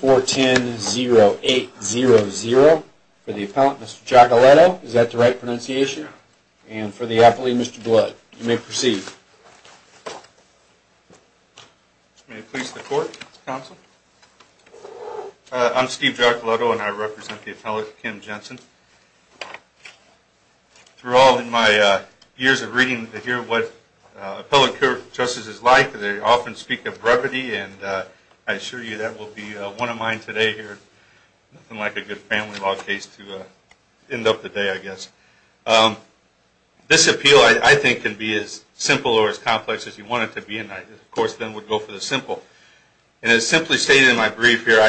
4-10-0-8-0-0 for the appellant, Mr. Giacoletto, is that the right pronunciation, and for the appellee, Mr. Blood. You may proceed. May it please the Court, Mr. Counsel. I'm Steve Giacoletto and I represent the appellant, Kim Jenson. Through all of my years of reading to hear what appellate court justice is like, they often speak of brevity, and I assure you that will be one of mine today here. Nothing like a good family law case to end up the day, I guess. This appeal, I think, can be as simple or as complex as you want it to be, and I, of course, then would go for the simple, and as simply stated in my brief here,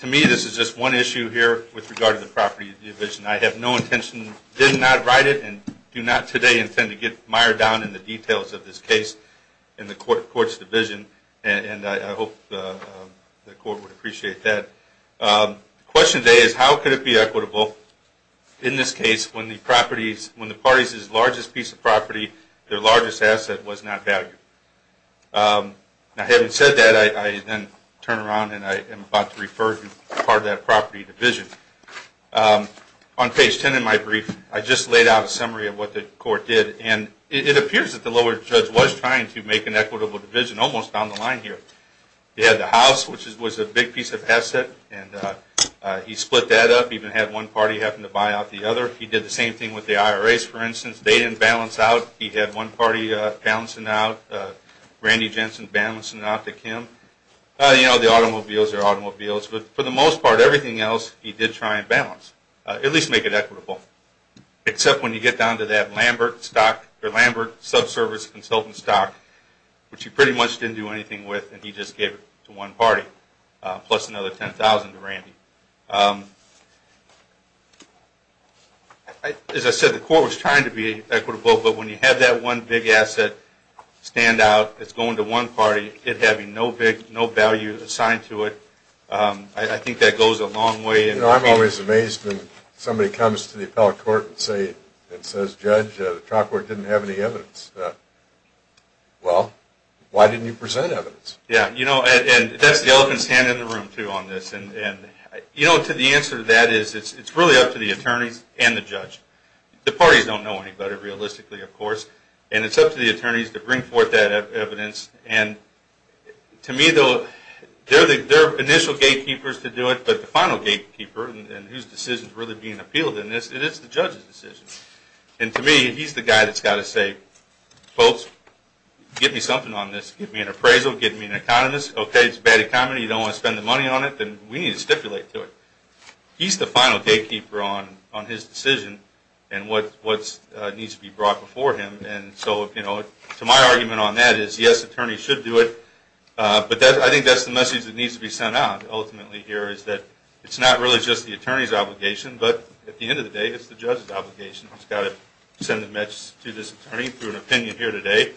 to me, this is just one issue here with regard to the property division. I have no intention, did not write it, and do not today intend to get mired down in the details of this case in the Court of Courts division, and I hope the Court would appreciate that. The question today is, how could it be equitable, in this case, when the parties' largest piece of property, their largest asset, was not valued? Now, having said that, I then turn around, and I am about to refer to part of that property division. On page 10 in my brief, I just laid out a summary of what the court did, and it appears that the lower judge was trying to make an equitable division, almost down the line here. He had the house, which was a big piece of asset, and he split that up, even had one party having to buy out the other. He did the same thing with the IRAs, for instance. They didn't balance out. He had one party balancing out, Randy Jensen balancing out to Kim, you know, the automobiles are automobiles, but for the most part, everything else, he did try and balance, at least make it equitable, except when you get down to that Lambert stock, or Lambert subservice consultant stock, which he pretty much didn't do anything with, and he just gave it to one party, plus another $10,000 to Randy. As I said, the court was trying to be equitable, but when you have that one big asset stand out, it's going to one party, it having no value assigned to it, I think that goes a long way. You know, I'm always amazed when somebody comes to the appellate court and says, Judge, the trial court didn't have any evidence, well, why didn't you present evidence? Yeah, you know, and that's the elephant's hand in the room, too, on this. You know, to the answer to that is, it's really up to the attorneys and the judge. The parties don't know any better, realistically, of course, and it's up to the attorneys to bring forth that evidence, and to me, though, they're the initial gatekeepers to do it, but the final gatekeeper, and whose decision is really being appealed in this, it is the judge's decision. And to me, he's the guy that's got to say, folks, get me something on this, get me an appraisal, get me an economist, okay, it's a bad economy, you don't want to spend the money, we need to stipulate to it. He's the final gatekeeper on his decision, and what needs to be brought before him, and so, you know, to my argument on that is, yes, attorneys should do it, but I think that's the message that needs to be sent out, ultimately, here, is that it's not really just the attorney's obligation, but at the end of the day, it's the judge's obligation. I've just got to send a message to this attorney through an opinion here today,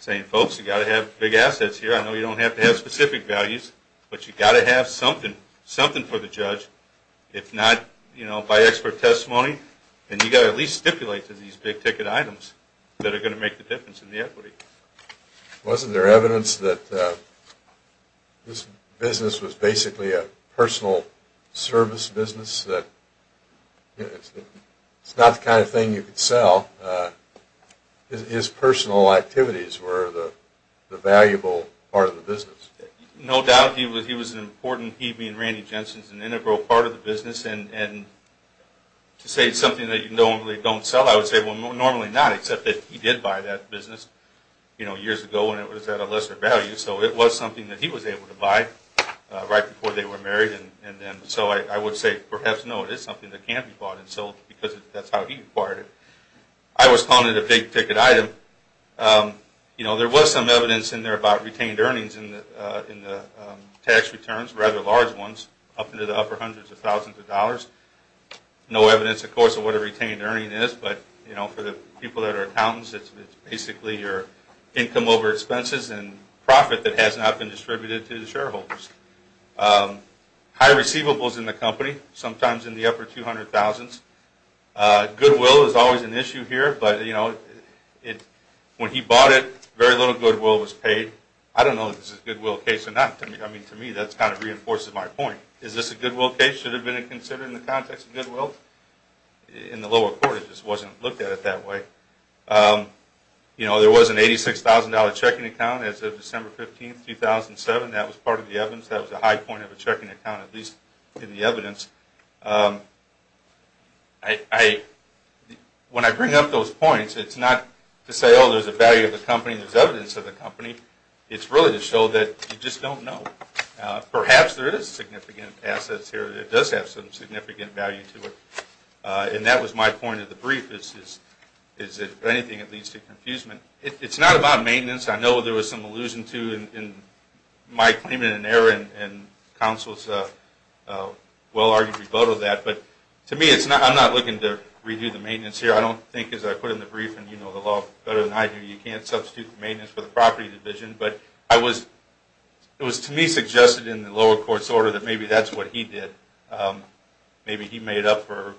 saying, folks, you've got to have big assets here, I know you don't have to have specific values, but you've got to have something, something for the judge, if not, you know, by expert testimony, then you've got to at least stipulate to these big ticket items that are going to make the difference in the equity. Wasn't there evidence that this business was basically a personal service business, that it's not the kind of thing you could sell, his personal activities were the valuable part of the business? No doubt he was an important, he being Randy Jensen, was an integral part of the business, and to say it's something that you normally don't sell, I would say, well, normally not, except that he did buy that business, you know, years ago when it was at a lesser value, so it was something that he was able to buy right before they were married, and so I would say, perhaps, no, it is something that can be bought and sold, because that's how he acquired it. I was calling it a big ticket item, you know, there was some evidence in there about retained earnings in the tax returns, rather large ones, up into the upper hundreds of thousands of dollars, no evidence, of course, of what a retained earning is, but, you know, for the people that are accountants, it's basically your income over expenses and profit that has not been distributed to the shareholders. High receivables in the company, sometimes in the upper 200,000s, goodwill is always an issue here, but, you know, when he bought it, very little goodwill was paid, I don't know if this is a goodwill case or not, I mean, to me, that kind of reinforces my point, is this a goodwill case, should it have been considered in the context of goodwill? In the lower court, it just wasn't looked at it that way. You know, there was an $86,000 checking account as of December 15, 2007, that was part of the evidence, that was a high point of a checking account, at least in the evidence. When I bring up those points, it's not to say, oh, there's a value of the company, there's not, it's really to show that you just don't know. Perhaps there is significant assets here that does have some significant value to it, and that was my point of the brief, is if anything it leads to confusement. It's not about maintenance, I know there was some allusion to in my claim in an error in counsel's well-argued rebuttal of that, but, to me, I'm not looking to redo the maintenance here, I don't think, as I put in the brief, and you know the law better than I do, you can't substitute the maintenance for the property division, but it was to me suggested in the lower court's order that maybe that's what he did, maybe he made up for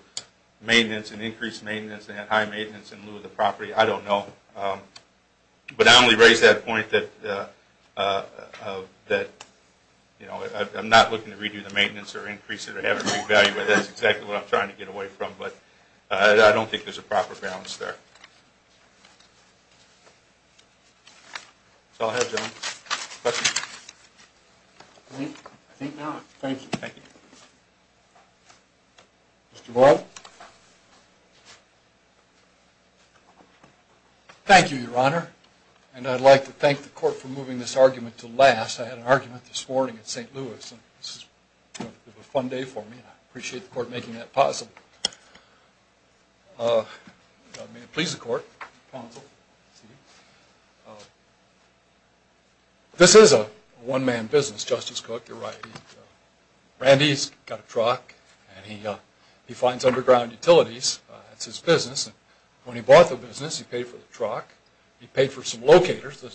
maintenance and increased maintenance and had high maintenance in lieu of the property, I don't know. But I only raise that point that, you know, I'm not looking to redo the maintenance or increase it or have a big value, that's exactly what I'm trying to get away from, but I don't think there's a proper balance there. That's all I have, gentlemen. Questions? I think not. Thank you. Thank you. Mr. Boyle? Thank you, Your Honor, and I'd like to thank the court for moving this argument to last. I had an argument this morning at St. Louis, and this is, you know, a fun day for me, and I appreciate the court making that possible. May it please the court, counsel. This is a one-man business, Justice Cook, you're right. Randy's got a truck, and he finds underground utilities, that's his business, and when he bought the business, he paid for the truck, he paid for some locators, the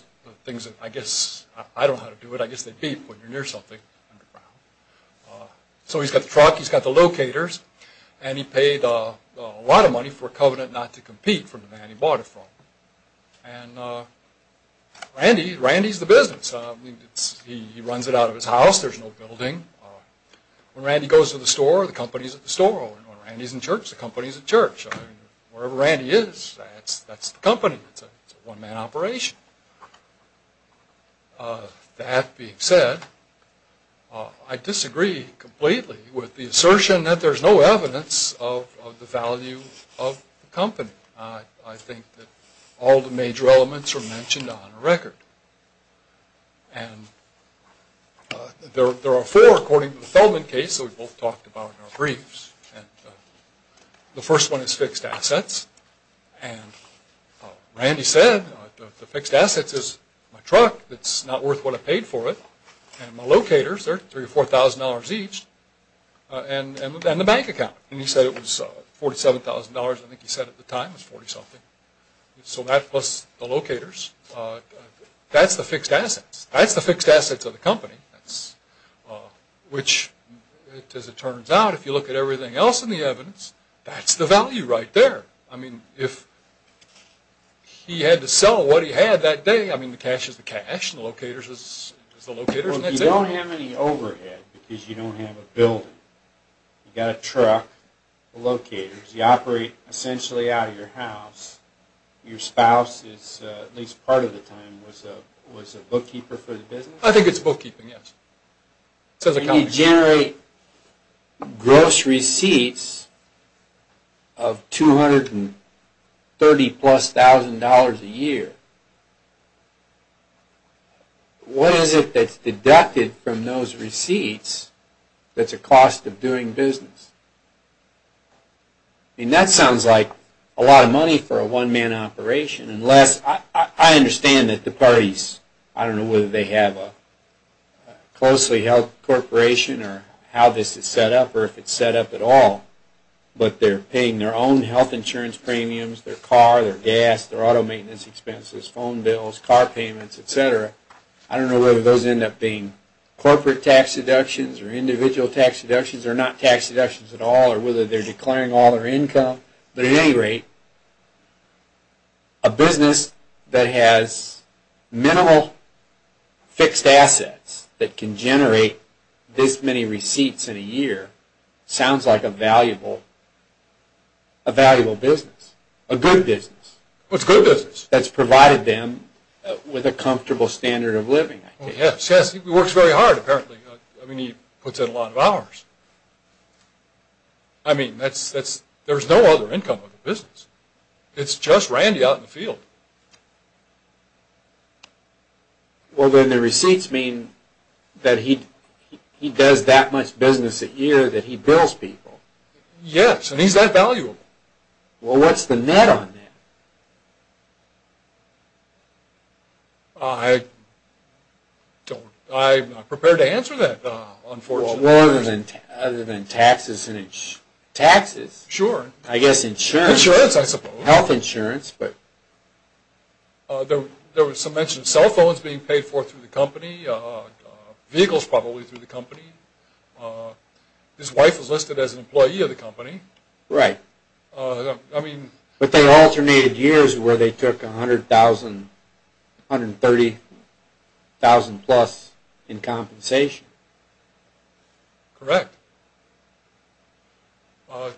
things that I guess, I don't know how to do it, I guess they beep when you're near something underground. So he's got the truck, he's got the locators, and he paid a lot of money for a covenant not to compete from the man he bought it from. And Randy's the business. He runs it out of his house, there's no building. When Randy goes to the store, the company's at the store. When Randy's in church, the company's in church. Wherever Randy is, that's the company. It's a one-man operation. That being said, I disagree completely with the assertion that there's no evidence of the value of the company. I think that all the major elements are mentioned on the record. And there are four, according to the Feldman case, that we both talked about in our briefs. The first one is fixed assets. And Randy said, the fixed assets is my truck that's not worth what I paid for it, and my locators, they're $3,000 or $4,000 each, and the bank account. And he said it was $47,000, I think he said at the time, it was 40-something. So that plus the locators, that's the fixed assets. That's the fixed assets of the company, which, as it turns out, if you look at everything else in the evidence, that's the value right there. I mean, if he had to sell what he had that day, I mean, the cash is the cash, and the locators is the locators, and that's it. Well, if you don't have any overhead, because you don't have a building, you've got a truck, the locators, you operate essentially out of your house, your spouse is, at least part of the time, was a bookkeeper for the business? I think it's bookkeeping, yes. When you generate gross receipts of $230,000 plus a year, what is it that's deducted from those receipts that's a cost of doing business? I mean, that sounds like a lot of money for a one-man operation, unless, I understand that the parties, I don't know whether they have a closely held corporation, or how this is set up, or if it's set up at all, but they're paying their own health insurance premiums, their car, their gas, their auto maintenance expenses, phone bills, car payments, etc. I don't know whether those end up being corporate tax deductions, or individual tax deductions, or not tax deductions at all, or whether they're declaring all their income. But at any rate, a business that has minimal fixed assets, that can generate this many receipts in a year, sounds like a valuable business. A good business. Well, it's a good business. That's provided them with a comfortable standard of living, I think. Yes, yes, he works very hard, apparently. I mean, he puts in a lot of hours. I mean, there's no other income of the business. It's just Randy out in the field. Well, then the receipts mean that he does that much business a year that he bills people. Yes, and he's that valuable. Well, what's the net on that? I'm not prepared to answer that, unfortunately. Well, other than taxes. Taxes? Sure. I guess insurance. Insurance, I suppose. Health insurance. There was some mention of cell phones being paid for through the company, vehicles probably through the company. His wife was listed as an employee of the company. Right. But there are alternated years where they took $130,000 plus in compensation. Correct.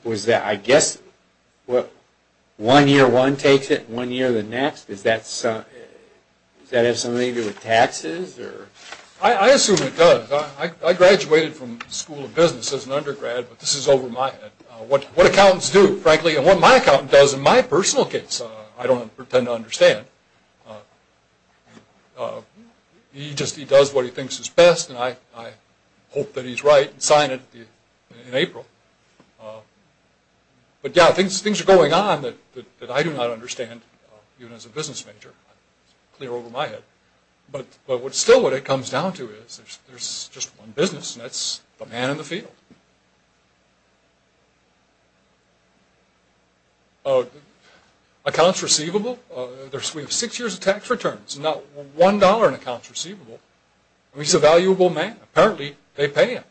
Was that, I guess, one year one takes it and one year the next? Does that have something to do with taxes? I assume it does. I graduated from the School of Business as an undergrad, but this is over my head. What accountants do, frankly, and what my accountant does in my personal case, I don't intend to understand. He just does what he thinks is best, and I hope that he's right and sign it in April. But, yes, things are going on that I do not understand, even as a business major. It's clear over my head. But still what it comes down to is there's just one business, and that's the man in the field. Accounts receivable. We have six years of tax returns and not one dollar in accounts receivable. He's a valuable man. Apparently they pay him.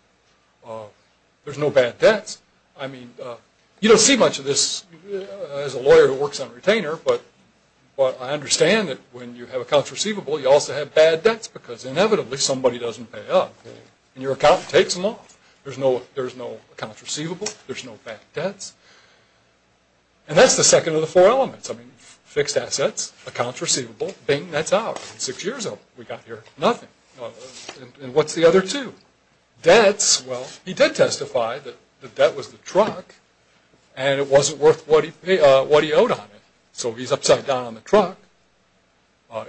There's no bad debts. You don't see much of this as a lawyer who works on retainer, but I understand that when you have accounts receivable you also have bad debts because inevitably somebody doesn't pay up. And your accountant takes them off. There's no accounts receivable. There's no bad debts. And that's the second of the four elements. I mean, fixed assets, accounts receivable, bing, that's ours. Six years old. We got here, nothing. And what's the other two? Debts, well, he did testify that the debt was the truck and it wasn't worth what he owed on it. So he's upside down on the truck.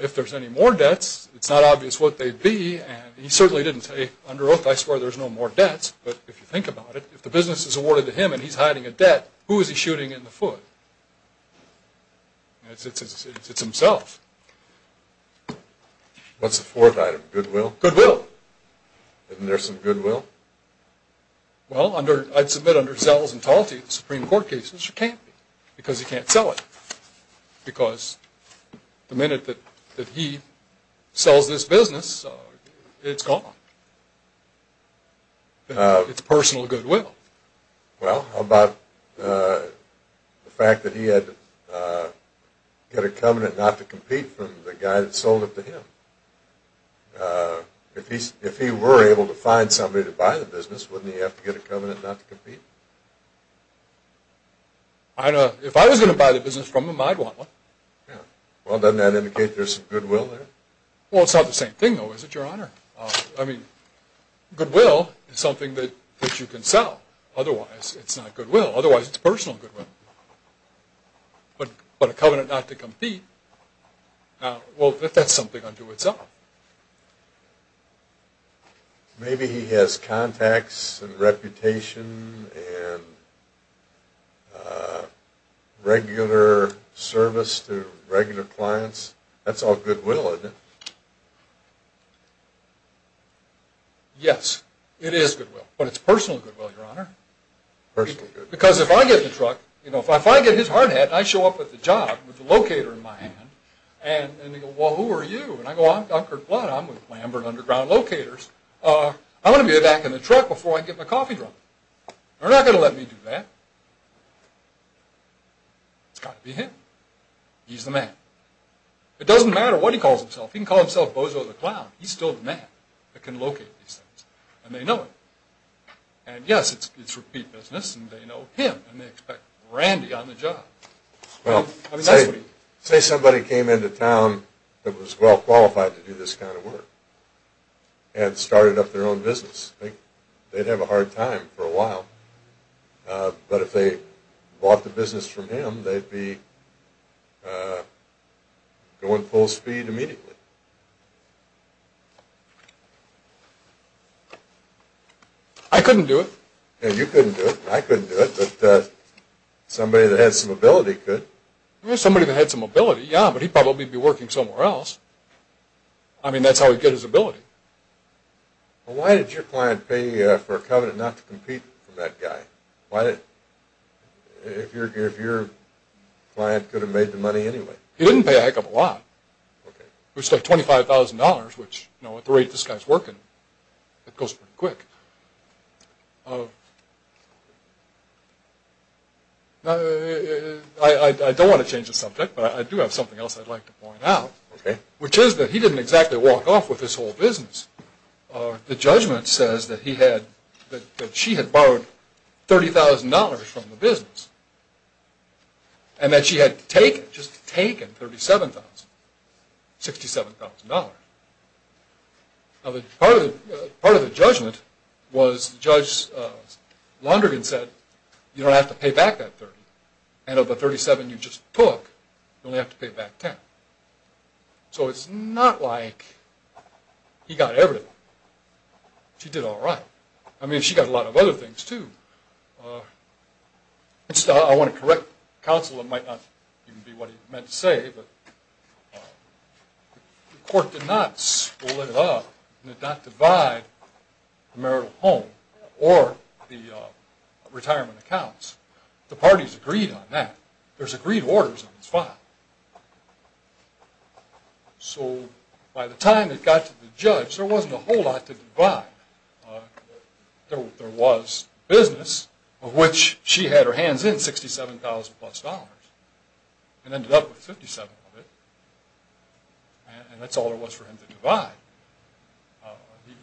If there's any more debts, it's not obvious what they'd be, and he certainly didn't say, under oath, I swear there's no more debts. But if you think about it, if the business is awarded to him and he's hiding a debt, who is he shooting in the foot? It's himself. What's the fourth item, goodwill? Goodwill. Isn't there some goodwill? Well, I'd submit under Zells and Talty, Supreme Court cases, there can't be because you can't sell it because the minute that he sells this business, it's gone. It's personal goodwill. Well, how about the fact that he had to get a covenant not to compete from the guy that sold it to him? If he were able to find somebody to buy the business, I don't know. If I was going to buy the business from him, I'd want one. Yeah. Well, doesn't that indicate there's some goodwill there? Well, it's not the same thing, though, is it, Your Honor? I mean, goodwill is something that you can sell. Otherwise, it's not goodwill. Otherwise, it's personal goodwill. But a covenant not to compete, well, that's something unto itself. Maybe he has contacts and reputation and regular service to regular clients. That's all goodwill, isn't it? Yes, it is goodwill. But it's personal goodwill, Your Honor. Personal goodwill. Because if I get the truck, if I get his hard hat, and I show up at the job with the locator in my hand, and they go, well, who are you? And I go, I'm Dr. Blood. I'm with Lambert Underground Locators. I'm going to be back in the truck before I get my coffee drunk. They're not going to let me do that. It's got to be him. He's the man. It doesn't matter what he calls himself. He can call himself Bozo the Clown. He's still the man that can locate these things, and they know it. And, yes, it's repeat business, and they know him, and they expect Randy on the job. Well, say somebody came into town that was well qualified to do this kind of work and started up their own business. They'd have a hard time for a while. But if they bought the business from him, they'd be going full speed immediately. I couldn't do it. You couldn't do it. I couldn't do it. But somebody that had some ability could. Somebody that had some ability, yeah, but he'd probably be working somewhere else. I mean, that's how he'd get his ability. Well, why did your client pay for a covenant not to compete with that guy? If your client could have made the money anyway. He didn't pay a heck of a lot. It was like $25,000, which, at the rate this guy's working, it goes pretty quick. I don't want to change the subject, but I do have something else I'd like to point out, which is that he didn't exactly walk off with this whole business. The judgment says that she had borrowed $30,000 from the business and that she had taken, just taken, $37,000, $67,000. Now, part of the judgment was Judge Londrigan said, you don't have to pay back that $30,000, and of the $37,000 you just took, you only have to pay back $10,000. So it's not like he got everything. She did all right. I mean, she got a lot of other things, too. I want to correct counsel. It might not even be what he meant to say, but the court did not split it up. It did not divide the marital home or the retirement accounts. The parties agreed on that. There's agreed orders on this file. So by the time it got to the judge, there wasn't a whole lot to divide. There was business, of which she had her hands in $67,000 plus dollars and ended up with $57,000 of it, and that's all there was for him to divide.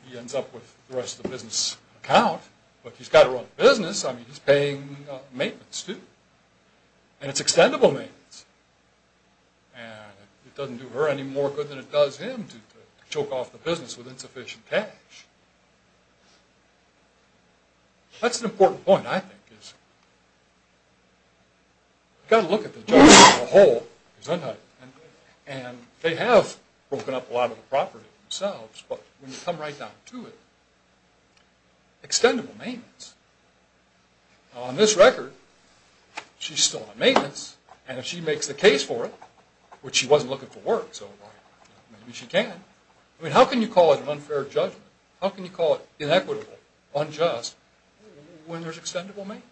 He ends up with the rest of the business account, but he's got to run the business. I mean, he's paying maintenance, too, and it's extendable maintenance, and it doesn't do her any more good than it does him to choke off the business with insufficient cash. That's an important point, I think. You've got to look at the judge as a whole. They have broken up a lot of the property themselves, but when you come right down to it, extendable maintenance. On this record, she's still on maintenance, and if she makes the case for it, which she wasn't looking for work, so maybe she can. I mean, how can you call it an unfair judgment? How can you call it inequitable, unjust, when there's extendable maintenance?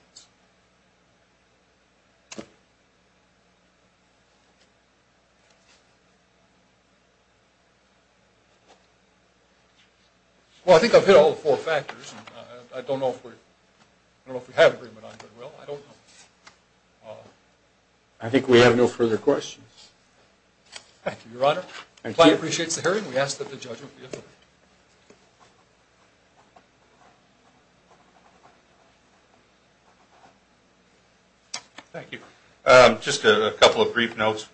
Well, I think I've hit all four factors. I don't know if we have an agreement on it very well. I don't know. Thank you, Your Honor. The client appreciates the hearing. We ask that the judgment be approved. Thank you. Just a couple of brief notes.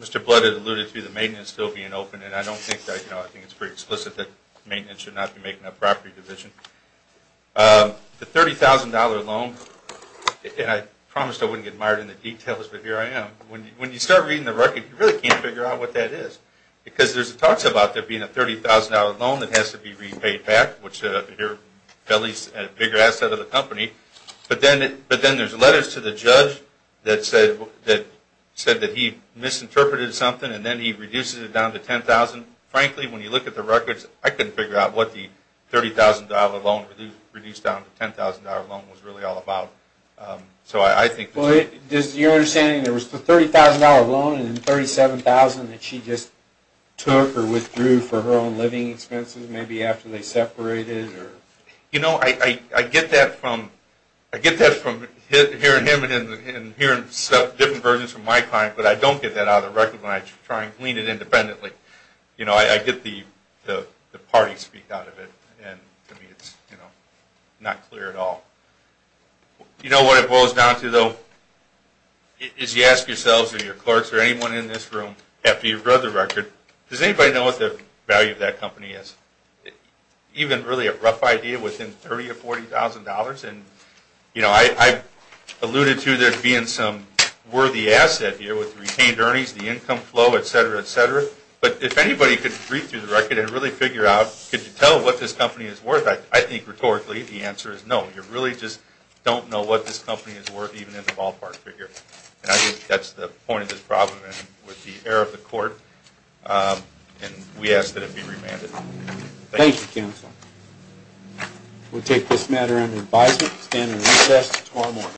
Mr. Blood had alluded to the maintenance still being open, and I don't think that, you know, I think it's pretty explicit that maintenance should not be making up property division. The $30,000 loan, and I promised I wouldn't get mired in the details, but here I am. When you start reading the record, you really can't figure out what that is, because there's talks about there being a $30,000 loan that has to be repaid back, which is a bigger asset of the company, but then there's letters to the judge that said that he misinterpreted something and then he reduces it down to $10,000. Frankly, when you look at the records, I couldn't figure out what the $30,000 loan reduced down to $10,000 loan was really all about. Does your understanding there was the $30,000 loan and the $37,000 that she just took or withdrew for her own living expenses, maybe after they separated? You know, I get that from hearing him and hearing different versions from my client, but I don't get that out of the record when I try and glean it independently. You know, I get the party speak out of it, and to me it's not clear at all. You know what it boils down to, though, is you ask yourselves or your clerks or anyone in this room, after you've read the record, does anybody know what the value of that company is? Even really a rough idea within $30,000 or $40,000, and I alluded to there being some worthy asset here with retained earnings, the income flow, et cetera, et cetera, but if anybody could read through the record and really figure out, could you tell what this company is worth, I think rhetorically the answer is no. You really just don't know what this company is worth even in the ballpark figure, and I think that's the point of this problem with the error of the court, and we ask that it be remanded. Thank you, Counselor. We'll take this matter under advisement and stand in recess until tomorrow morning.